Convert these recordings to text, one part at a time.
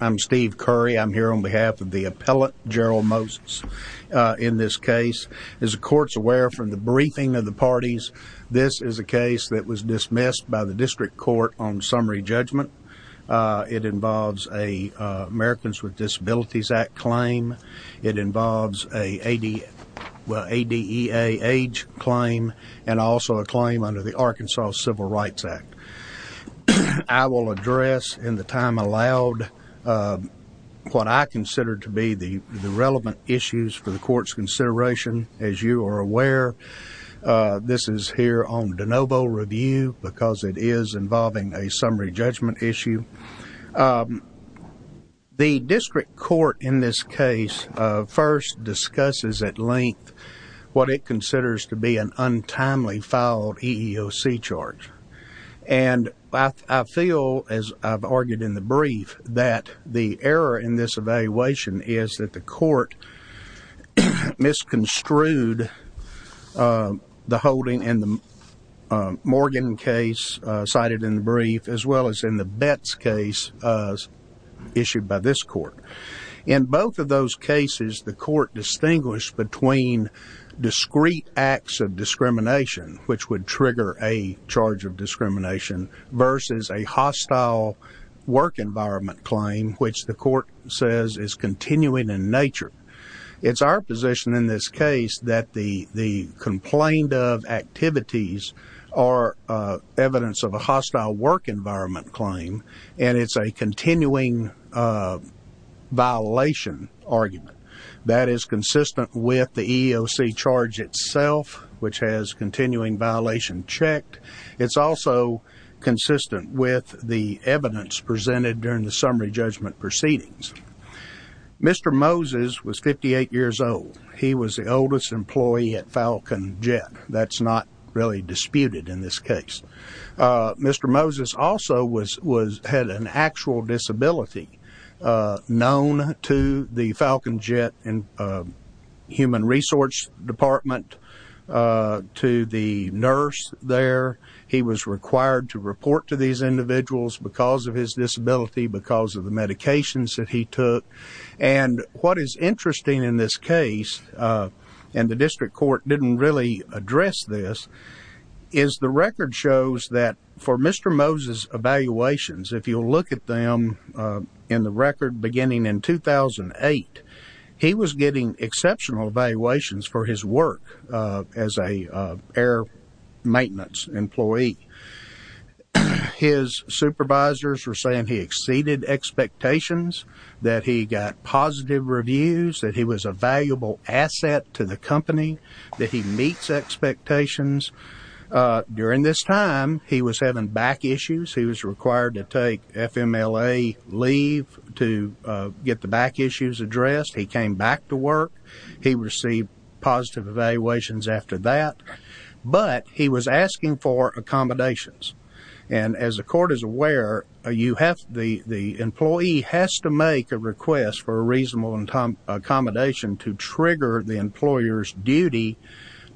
I'm Steve Curry. I'm here on behalf of the appellate, Gerald Moses, in this case. As the court's aware from the briefing of the parties, this is a case that was dismissed by the district court on summary judgment. It involves a Americans with Disabilities Act claim. It involves a ADEA age claim and also a claim under the Arkansas Civil Rights Act. I will address in the time allowed what I consider to be the relevant issues for the court's consideration. As you are aware, this is here on de novo review because it is involving a summary judgment issue. The district court in this case first discusses at length what it I feel, as I've argued in the brief, that the error in this evaluation is that the court misconstrued the holding in the Morgan case cited in the brief as well as in the Betts case issued by this court. In both of those cases, the court distinguished between discrete acts of discrimination, which would trigger a charge of discrimination, versus a hostile work environment claim, which the court says is continuing in nature. It's our position in this case that the complained of activities are evidence of a hostile work environment claim, and it's a continuing violation argument. That is consistent with the EEOC charge itself, which has continuing violation checked. It's also consistent with the evidence presented during the summary judgment proceedings. Mr. Moses was 58 years old. He was the oldest employee at had an actual disability known to the Falcon Jet and Human Resource Department, to the nurse there. He was required to report to these individuals because of his disability, because of the medications that he took. And what is interesting in this case, and the district court didn't really address this, is the record shows that for Mr. Moses' evaluations, if you look at them in the record beginning in 2008, he was getting exceptional evaluations for his work as an air maintenance employee. His supervisors were saying he exceeded expectations, that he got positive reviews, that he was a valuable asset to the company, that he meets expectations. During this time, he was having back issues. He was required to take FMLA leave to get the back issues addressed. He came back to work. He received positive evaluations after that, but he was asking for accommodations. And as the court is aware, the employee has to make a request for a reasonable accommodation to trigger the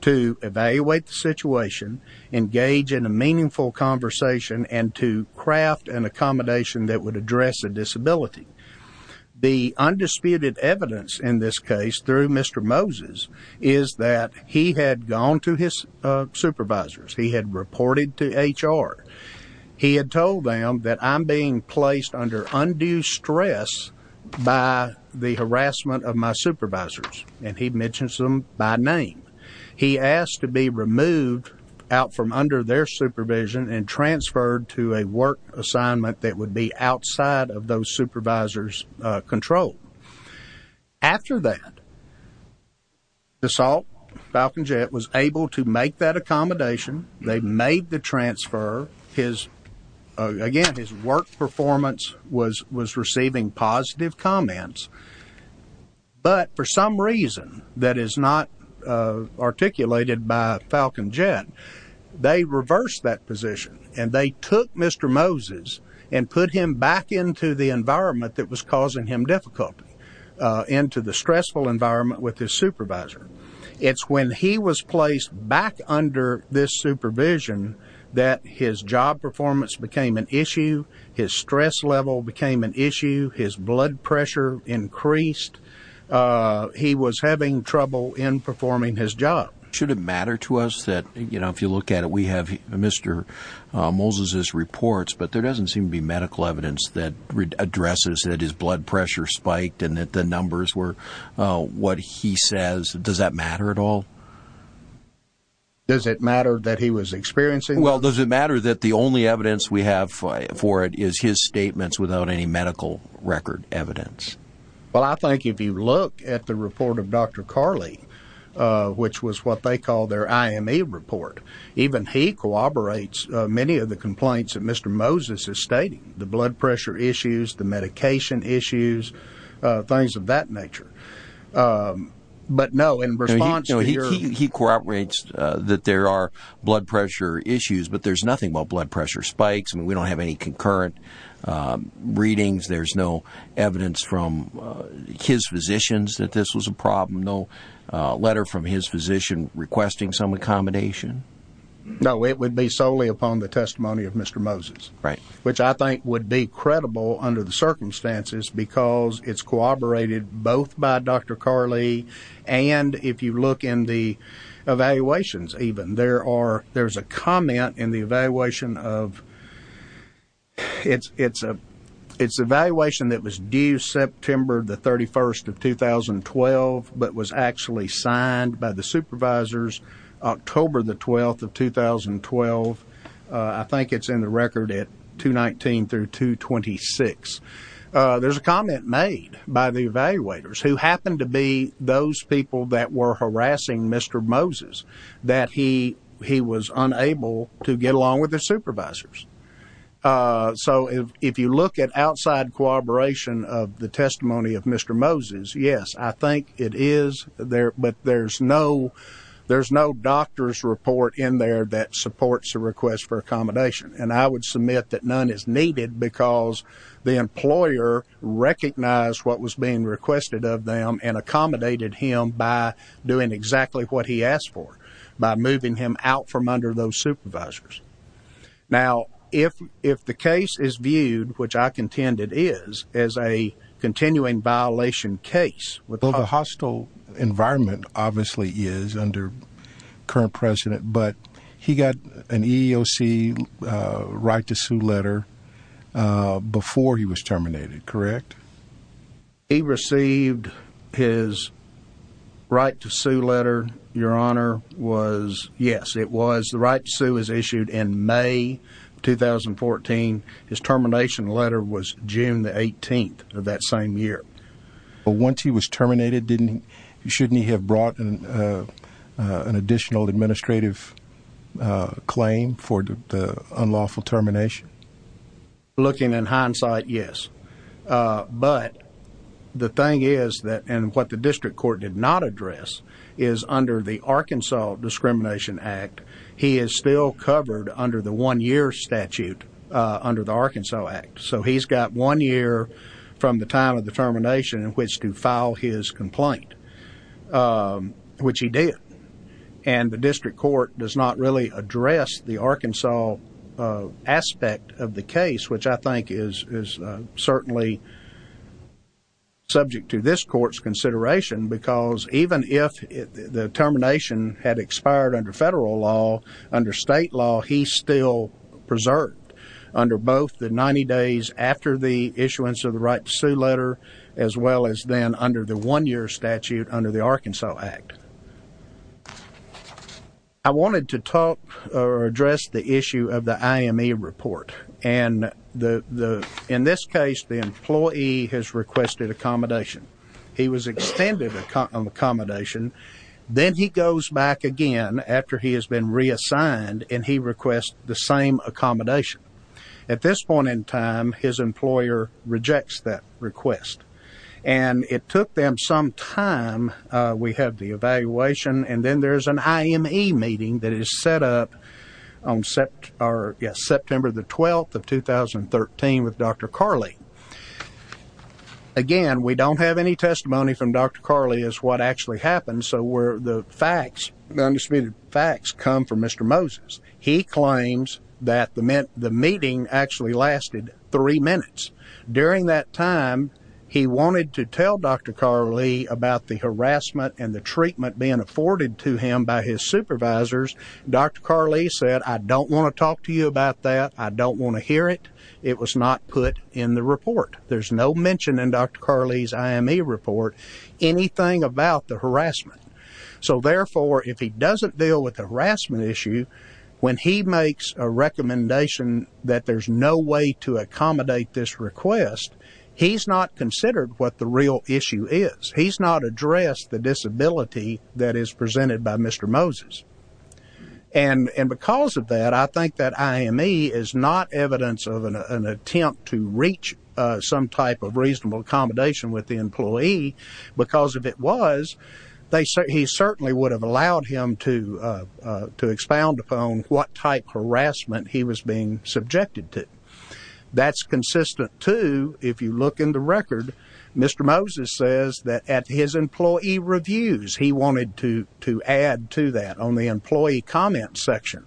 to evaluate the situation, engage in a meaningful conversation, and to craft an accommodation that would address a disability. The undisputed evidence in this case, through Mr. Moses, is that he had gone to his supervisors. He had reported to HR. He had told them that I'm being he asked to be removed out from under their supervision and transferred to a work assignment that would be outside of those supervisors' control. After that, the SALT Falcon Jet was able to make that accommodation. They made the transfer. Again, his work performance was receiving positive comments, but for some reason, that is not articulated by Falcon Jet. They reversed that position, and they took Mr. Moses and put him back into the environment that was causing him difficulty, into the stressful environment with his supervisor. It's when he was placed back under this supervision that his job performance became an issue. His stress level became an issue. His blood pressure increased. He was having trouble in performing his job. Should it matter to us that, you know, if you look at it, we have Mr. Moses's reports, but there doesn't seem to be medical evidence that addresses that his blood pressure spiked and that the numbers were what he says. Does that matter at all? Does it matter that he was experiencing? Well, does it matter that the only evidence we have for it is his statements without any medical record evidence? Well, I think if you look at the report of Dr. Carley, which was what they call their IME report, even he corroborates many of the complaints that Mr. Moses is stating, the blood pressure issues, the medication issues, things of that nature. But no, in response to your- He corroborates that there are blood pressure issues, but there's nothing about blood pressure no evidence from his physicians that this was a problem, no letter from his physician requesting some accommodation. No, it would be solely upon the testimony of Mr. Moses, which I think would be credible under the circumstances because it's corroborated both by Dr. Carley and if you look in the evaluation that was due September the 31st of 2012, but was actually signed by the supervisors October the 12th of 2012. I think it's in the record at 219 through 226. There's a comment made by the evaluators who happened to be those people that were harassing Mr. Moses, that he was unable to get along with the supervisors. So if you look at outside corroboration of the testimony of Mr. Moses, yes, I think it is there, but there's no doctor's report in there that supports the request for accommodation. And I would submit that none is needed because the employer recognized what was being requested of them and accommodated him by doing exactly what he asked for, by moving him out from under those supervisors. Now, if the case is viewed, which I contend it is, as a continuing violation case. Well, the hostile environment obviously is under current president, but he got an EEOC right to sue letter before he was terminated, correct? He received his right to sue letter, your honor, was, yes, it was. The right to sue was issued in May of 2014. His termination letter was June the 18th of that same year. Once he was terminated, didn't he, shouldn't he have brought an additional administrative claim for the unlawful termination? Looking in hindsight, yes, but the thing is that, and what the district court did not address is under the Arkansas Discrimination Act, he is still covered under the one year statute under the Arkansas Act. So he's got one year from the time of the termination in which to file his complaint, which he did. And the district court does not really address the Arkansas aspect of the case, which I think is certainly subject to this court's consideration, because even if the termination had expired under federal law, under state law, he's still preserved under both the 90 days after the issuance of the right to sue letter, as well as then under the one year statute under the Arkansas Act. I wanted to talk or address the issue of the IME report and the, in this case, the employee has requested accommodation. He was extended accommodation, then he goes back again after he has been reassigned and he requests the same accommodation. At this point in time, his employer rejects that request and it took them some time, we have the evaluation, and then there's an IME meeting that is set up on September the 12th of 2013 with Dr. Carley. Again, we don't have any testimony from Dr. Carley as to what actually happened. So where the facts, the undisputed facts come from Mr. Moses. He claims that the meeting actually lasted three minutes. During that time, he wanted to tell Dr. Carley about the harassment and the treatment being afforded to him by his supervisors. Dr. Carley said, I don't want to talk to you about that. I don't want to hear it. It was not put in the report. There's no mention in Dr. Carley's IME report, anything about the harassment. So therefore, if he doesn't deal with the harassment issue, when he makes a recommendation that there's no way to accommodate this request, he's not considered what the real issue is. He's not addressed the disability that is presented by Mr. Moses. And because of that, I think that IME is not evidence of an attempt to reach some type of reasonable accommodation with the employee because if it was, he certainly would have allowed him to expound upon what type harassment he was being subjected to. That's consistent, too, if you look in the record, Mr. Moses says that at his employee reviews, he wanted to add to that on the employee comment section.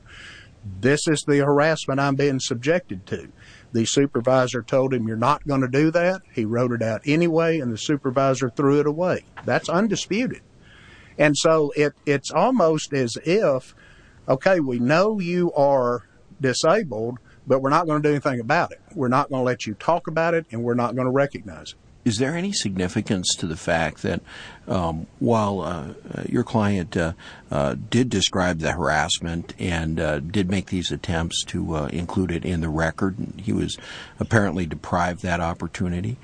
This is the harassment I'm being subjected to. The supervisor told him you're not going to do that. He wrote it out anyway, and the supervisor threw it away. That's undisputed. And so it's almost as if, okay, we know you are disabled, but we're not going to do anything about it. We're not going to let you talk about it, and we're not going to recognize it. Is there any significance to the fact that while your client did describe the harassment and did make these attempts to include it in the record, and he was apparently deprived of that opportunity,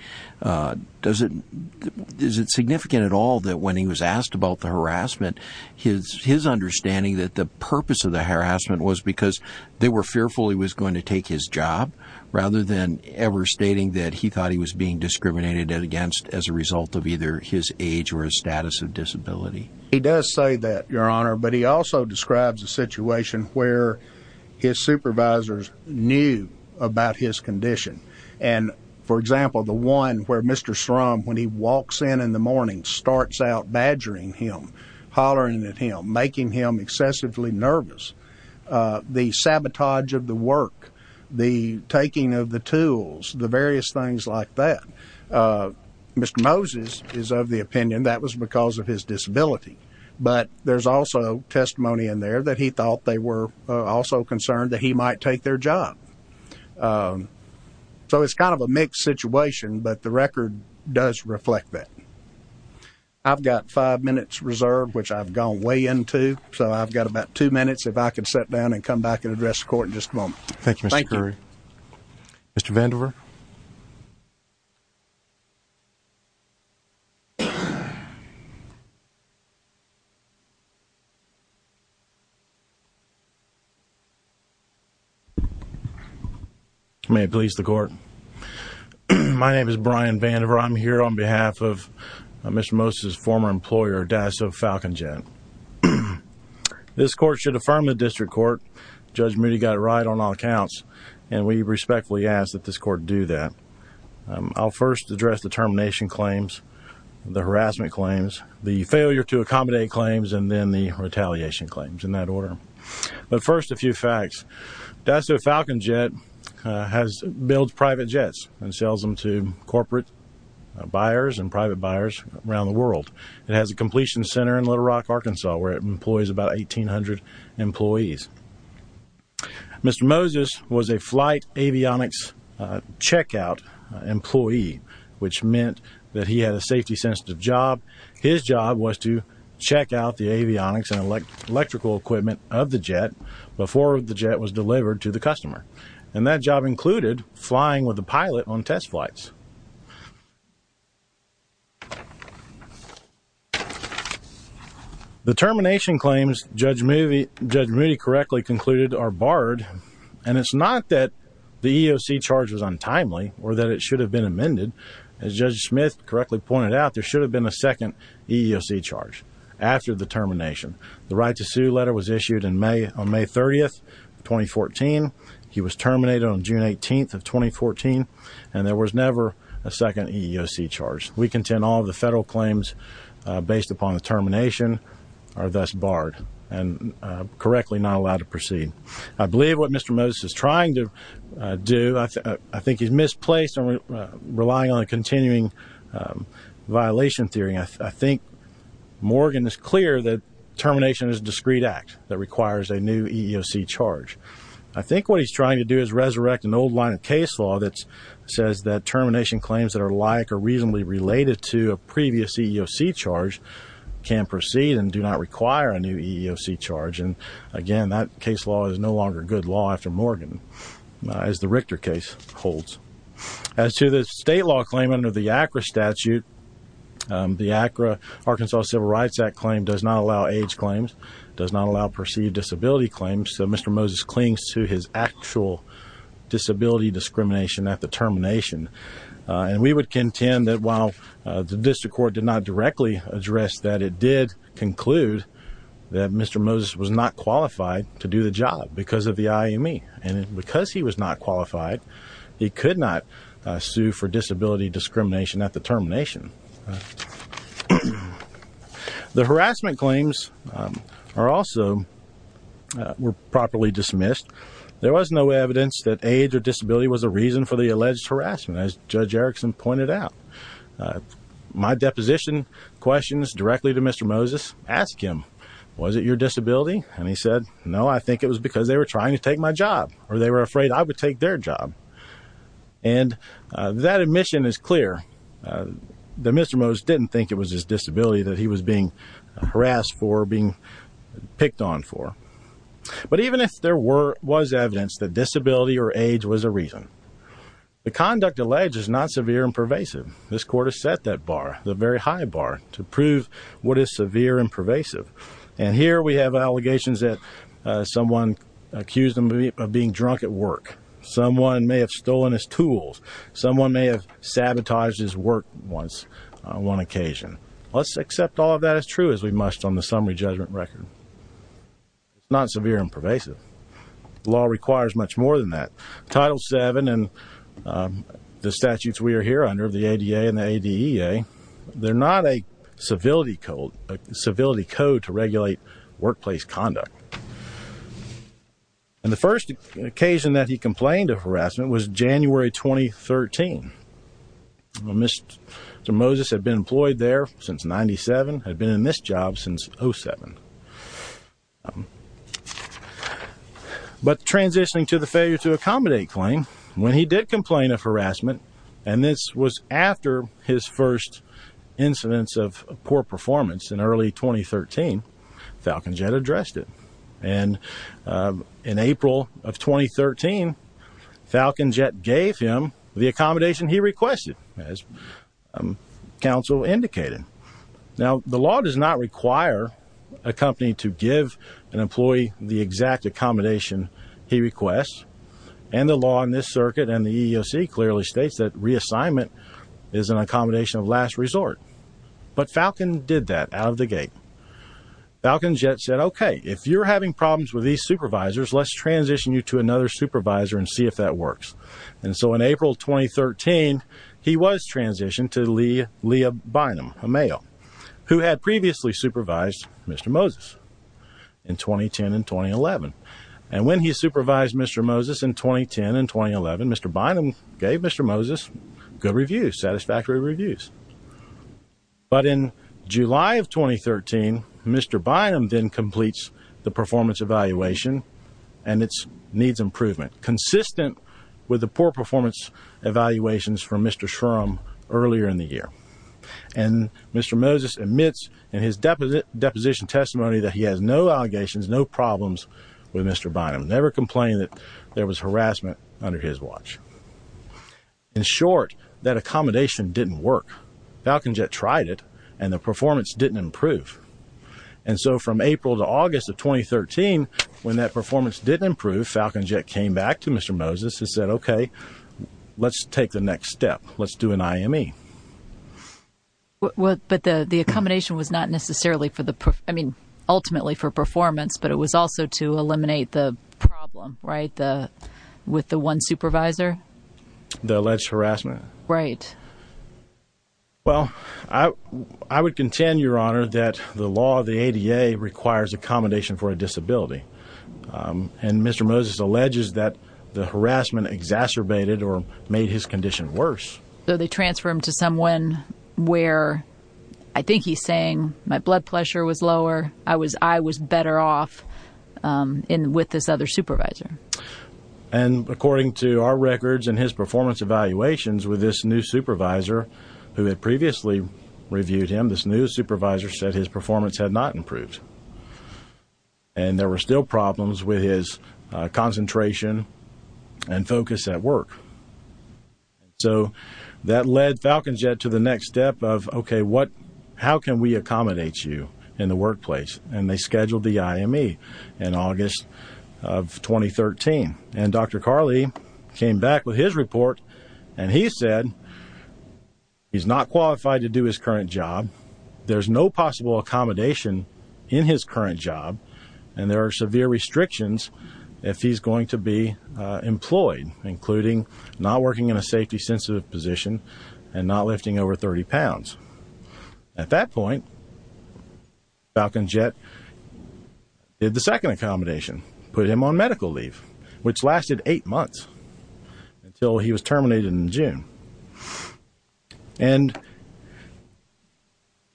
is it significant at all that when he was asked about the harassment, his understanding that the purpose of the harassment was because they were fearful he was going to take his job rather than ever stating that he thought he was being discriminated against as a result of either his age or his status of disability? He does say that, Your Honor, but he also describes a situation where his supervisors knew about his condition, and, for example, the one where Mr. Srum, when he walks in in the morning, starts out badgering him, hollering at him, making him excessively nervous, the sabotage of the work, the taking of the tools, the various things like that. Mr. Moses is of the opinion that was because of his disability, but there's also testimony in there that he thought they were also concerned that he might take their job. So it's kind of a mixed situation, but the record does reflect that. I've got five minutes reserved, which I've gone way into, so I've got about two minutes if I could sit down and come back and address the court in just a moment. Thank you, Mr. Curry. Mr. Vandiver? May it please the court. My name is Brian Vandiver. I'm here on behalf of Mr. Moses' former employer, Dasso Falcon Jet. This court should affirm the district court. Judge Moody got it right on all counts, and we respectfully ask that this court do that. I'll first address the termination claims, the harassment claims, the failure to accommodate claims, and then the retaliation claims, in that order. But first, a few facts. Dasso Falcon Jet builds private jets and sells them to corporate buyers and private buyers around the world. It has a completion center in Little Rock, Arkansas, where it employs about 1,800 employees. Mr. Moses was a flight avionics checkout employee, which meant that he had a safety-sensitive job. His job was to check out the avionics and electrical equipment of the jet before the jet was delivered to the customer. And that job included flying with the pilot on test flights. The termination claims Judge Moody correctly concluded are barred, and it's not that the EOC charge was untimely or that it should have been amended. As Judge Smith correctly pointed out, there should have been a second EEOC charge after the termination. The right-to-sue letter was issued on May 30, 2014. He was terminated on June 18, 2014, and there was never a second EEOC charge. We contend all of the federal claims based upon the termination are thus barred and correctly not allowed to proceed. I believe what Mr. Moses is trying to do, I think he's misplaced and relying on a continuing violation theory. I think Morgan is clear that termination is a discreet act that requires a new EEOC charge. I think what he's trying to do is resurrect an old line of case law that says that termination claims that are like or reasonably related to a previous EEOC charge can proceed and do not require a new EEOC charge. Again, that case law is no longer good law after Morgan, as the Richter case holds. As to the state law claim under the ACRA statute, the ACRA, Arkansas Civil Rights Act claim does not allow age claims, does not allow perceived disability claims, so Mr. Moses clings to his actual disability discrimination at the termination. We would contend that while the district court did not directly address that, it did conclude that Mr. Moses was not qualified to do the job because of the IME, and because he was not qualified, he could not sue for disability discrimination at the termination. The harassment claims are also, were properly dismissed. There was no evidence that age or disability was a reason for the alleged harassment, as Judge Erickson pointed out. My deposition questions directly to Mr. Moses, ask him, was it your disability? And he said, no, I think it was because they were trying to take my job, or they were afraid I would take their job. And that admission is clear, that Mr. Moses didn't think it was his disability that he was being harassed for, being picked on for. But even if there was evidence that disability or age was a reason, the conduct alleged is not severe and pervasive. This court has set that bar, the very high bar, to prove what is severe and pervasive. And here we have allegations that someone accused him of being drunk at work. Someone may have stolen his tools. Someone may have sabotaged his work once, on one occasion. Let's accept all of that as true as we must on the summary judgment record. It's not severe and pervasive. The law requires much more than that. Title VII and the statutes we are here under, the ADA and the ADEA, they're not a civility code, a civility code to regulate workplace conduct. And the first occasion that he complained of harassment was January 2013. Mr. Moses had been employed there since 97, had been in this job since 07. But transitioning to the failure to accommodate claim, when he did complain of harassment, and this was after his first incidence of poor performance in early 2013, Falcon Jet addressed it. And in April of 2013, Falcon Jet gave him the accommodation he requested, as counsel indicated. Now, the law does not require a company to give an employee the exact accommodation he requests. And the law in this circuit and the EEOC clearly states that reassignment is an accommodation of last resort. But Falcon did that out of the gate. Falcon Jet said, okay, if you're having problems with these supervisors, let's transition you to another supervisor and see if that works. And so in April 2013, he was transitioned to Leah Bynum, a male, who had previously supervised Mr. Moses in 2010 and 2011. And when he supervised Mr. Moses in 2010 and 2011, Mr. Bynum gave Mr. Moses good reviews, satisfactory reviews. But in July of 2013, Mr. Bynum then completes the performance evaluation and it needs improvement. Consistent with the poor performance evaluations from Mr. Shrum earlier in the year. And Mr. Moses admits in his deposition testimony that he has no allegations, no problems with Mr. Bynum. Never complained that there was harassment under his watch. In short, that accommodation didn't work. Falcon Jet tried it and the performance didn't improve. And so from April to August of 2013, when that performance didn't improve, Falcon Jet came back to Mr. Moses and said, okay, let's take the next step. Let's do an IME. But the accommodation was not necessarily for the, I mean, ultimately for performance, but it was also to eliminate the problem, right? With the one supervisor? The alleged harassment. Right. Well, I would contend, Your Honor, that the law, the ADA requires accommodation for a disability. And Mr. Moses alleges that the harassment exacerbated or made his condition worse. So they transfer him to someone where I think he's saying my blood pressure was lower. I was, I was better off in with this other supervisor. And according to our records and his performance evaluations with this new supervisor who had previously reviewed him, this new supervisor said his performance had not improved. And there were still problems with his concentration and focus at work. So that led Falcon Jet to the next step of, okay, what, how can we accommodate you in the workplace? And they scheduled the IME in August of 2013. And Dr. Carley came back with his report and he said, he's not qualified to do his current job. There's no possible accommodation in his current job. And there are severe restrictions if he's going to be employed, including not working in a safety sensitive position and not lifting over 30 pounds. At that point, Falcon Jet did the second accommodation, put him on medical leave, which lasted eight months until he was terminated in June. And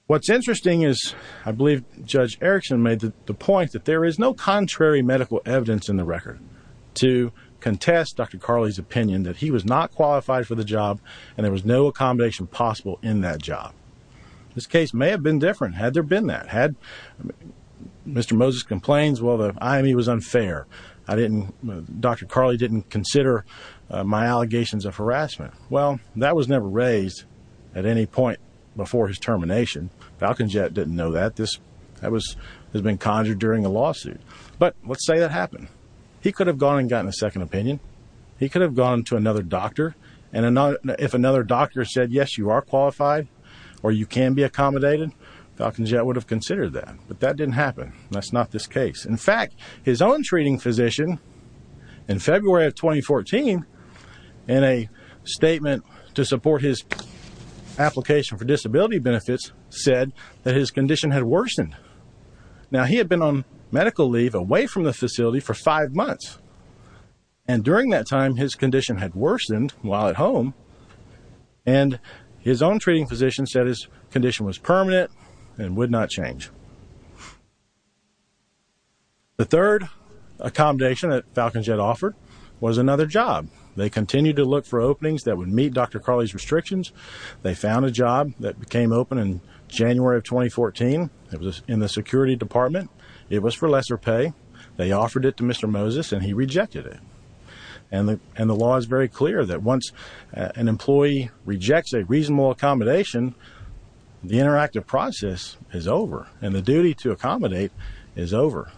what's interesting is I believe Judge Erickson made the point that there is no contrary medical evidence in the record to contest Dr. Carley's opinion that he was not This case may have been different. Had there been that, had Mr. Moses complains, well, the IME was unfair. I didn't, Dr. Carley didn't consider my allegations of harassment. Well, that was never raised at any point before his termination. Falcon Jet didn't know that. This has been conjured during a lawsuit. But let's say that happened. He could have gone and gotten a second opinion. He could have gone to another doctor. And if another doctor said, yes, you are qualified or you can be accommodated, Falcon Jet would have considered that. But that didn't happen. That's not this case. In fact, his own treating physician in February of 2014, in a statement to support his application for disability benefits, said that his condition had worsened. Now, he had been on medical leave away from the facility for five months. And during that time, his condition had worsened while at home. And his own treating physician said his condition was permanent and would not change. The third accommodation that Falcon Jet offered was another job. They continued to look for openings that would meet Dr. Carley's restrictions. They found a job that became open in January of 2014. It was in the security department. It was for lesser pay. They offered it to Mr. Moses and he rejected it. And the law is very clear that once an employee rejects a reasonable accommodation, the interactive process is over and the duty to accommodate is over.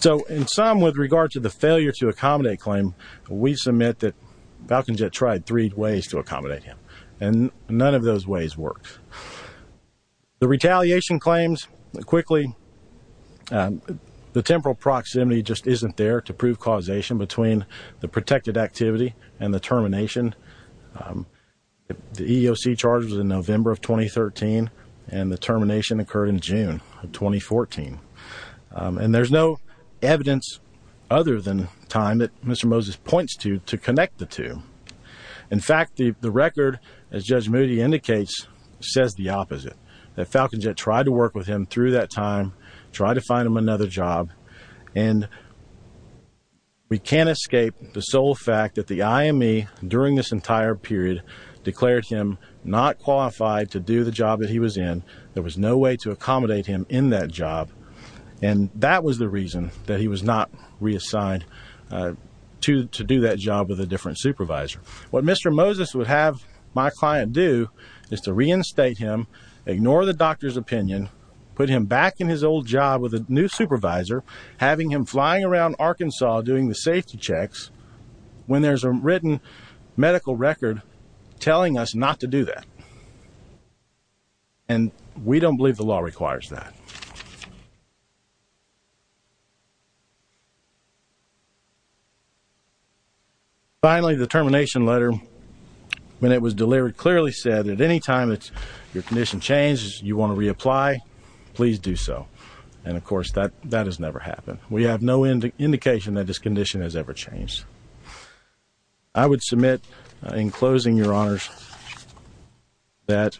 So in sum, with regard to the failure to accommodate claim, we submit that Falcon Jet tried three ways to accommodate him. And none of those ways worked. The retaliation claims, quickly, the temporal proximity just isn't there to prove causation between the protected activity and the termination. The EEOC charge was in November of 2013 and the termination occurred in June of 2014. And there's no evidence other than time that Mr. Moses points to to connect the two. In fact, the record, as Judge Moody indicates, says the opposite, that Falcon Jet tried to work with him through that time, tried to find him another job. And we can't escape the sole fact that the IME during this entire period declared him not qualified to do the job that he was in. There was no way to accommodate him in that job. And that was the reason that he was not reassigned to do that job with a different supervisor. What Mr. Moses would have my client do is to reinstate him, ignore the doctor's opinion, put him back in his old job with a new supervisor, having him flying around Arkansas doing the safety checks when there's a written medical record telling us not to do that. And we don't believe the law requires that. Finally, the termination letter, when it was delivered, clearly said that any time that your condition changes, you want to reapply, please do so. And of course, that has never happened. We have no indication that this condition has ever changed. I would submit in closing, Your Honors, that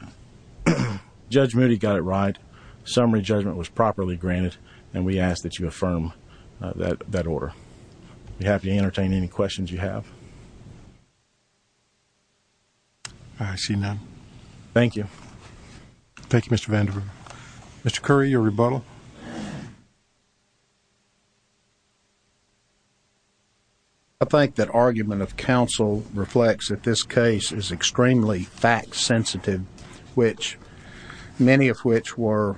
Judge Moody got it right. Summary judgment was properly granted. And we ask that you affirm that order. We'd be happy to entertain any questions you have. I see none. Thank you. Thank you, Mr. Vandiver. Mr. Curry, your rebuttal. I think that argument of counsel reflects that this case is extremely fact sensitive, which many of which were,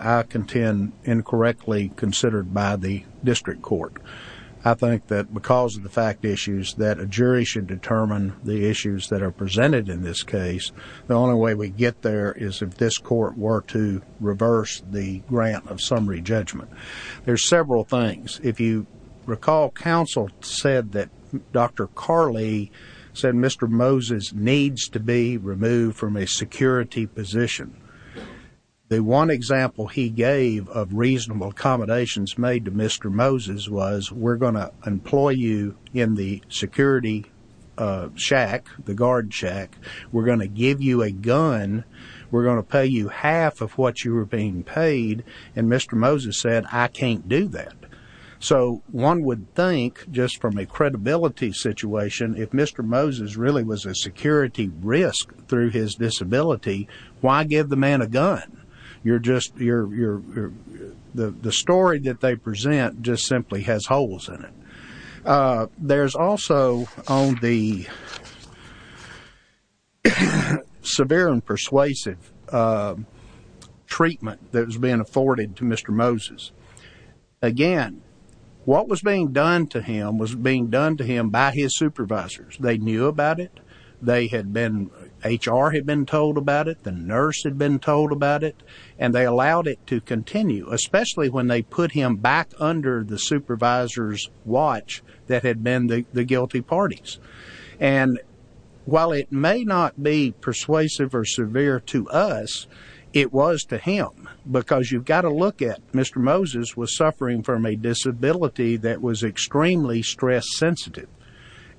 I contend, incorrectly considered by the district court. I think that because of the fact issues, that a jury should determine the issues that are presented in this case. The only way we get there is if this court were to reverse the grant of summary judgment. There's several things. If you recall, counsel said that Dr. Carley said, Mr. Moses needs to be removed from a security position. The one example he gave of reasonable accommodations made to Mr. Moses was, we're going to employ you in the security shack, the guard shack. We're going to give you a gun. We're going to pay you half of what you were being paid. And Mr. Moses said, I can't do that. So one would think just from a credibility situation, if Mr. Moses really was a security risk through his disability, why give the man a gun? The story that they present just simply has holes in it. There's also on the severe and persuasive treatment that was being afforded to Mr. Moses. Again, what was being done to him was being done to him by his supervisors. They knew about it. They had been, HR had been told about it. The nurse had been told about it, and they allowed it to continue, especially when they put him back under the supervisor's watch that had been the guilty parties. And while it may not be persuasive or severe to us, it was to him. Because you've got to look at Mr. Moses was suffering from a disability that was extremely stress sensitive.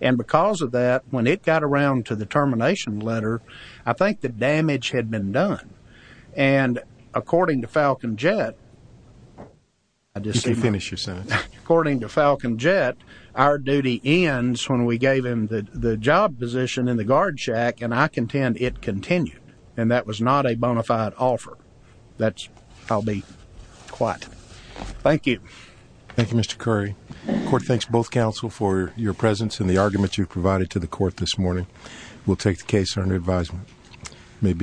And because of that, when it got around to the termination letter, I think the damage had been done. And according to Falcon Jet, according to Falcon Jet, our duty ends when we gave him the job position in the guard shack. And I contend it continued. And that was not a bona fide offer. That's I'll be quite. Thank you. Thank you, Mr. Curry. Court thanks both counsel for your presence and the argument you've provided to the court this morning. We'll take the case under advisement.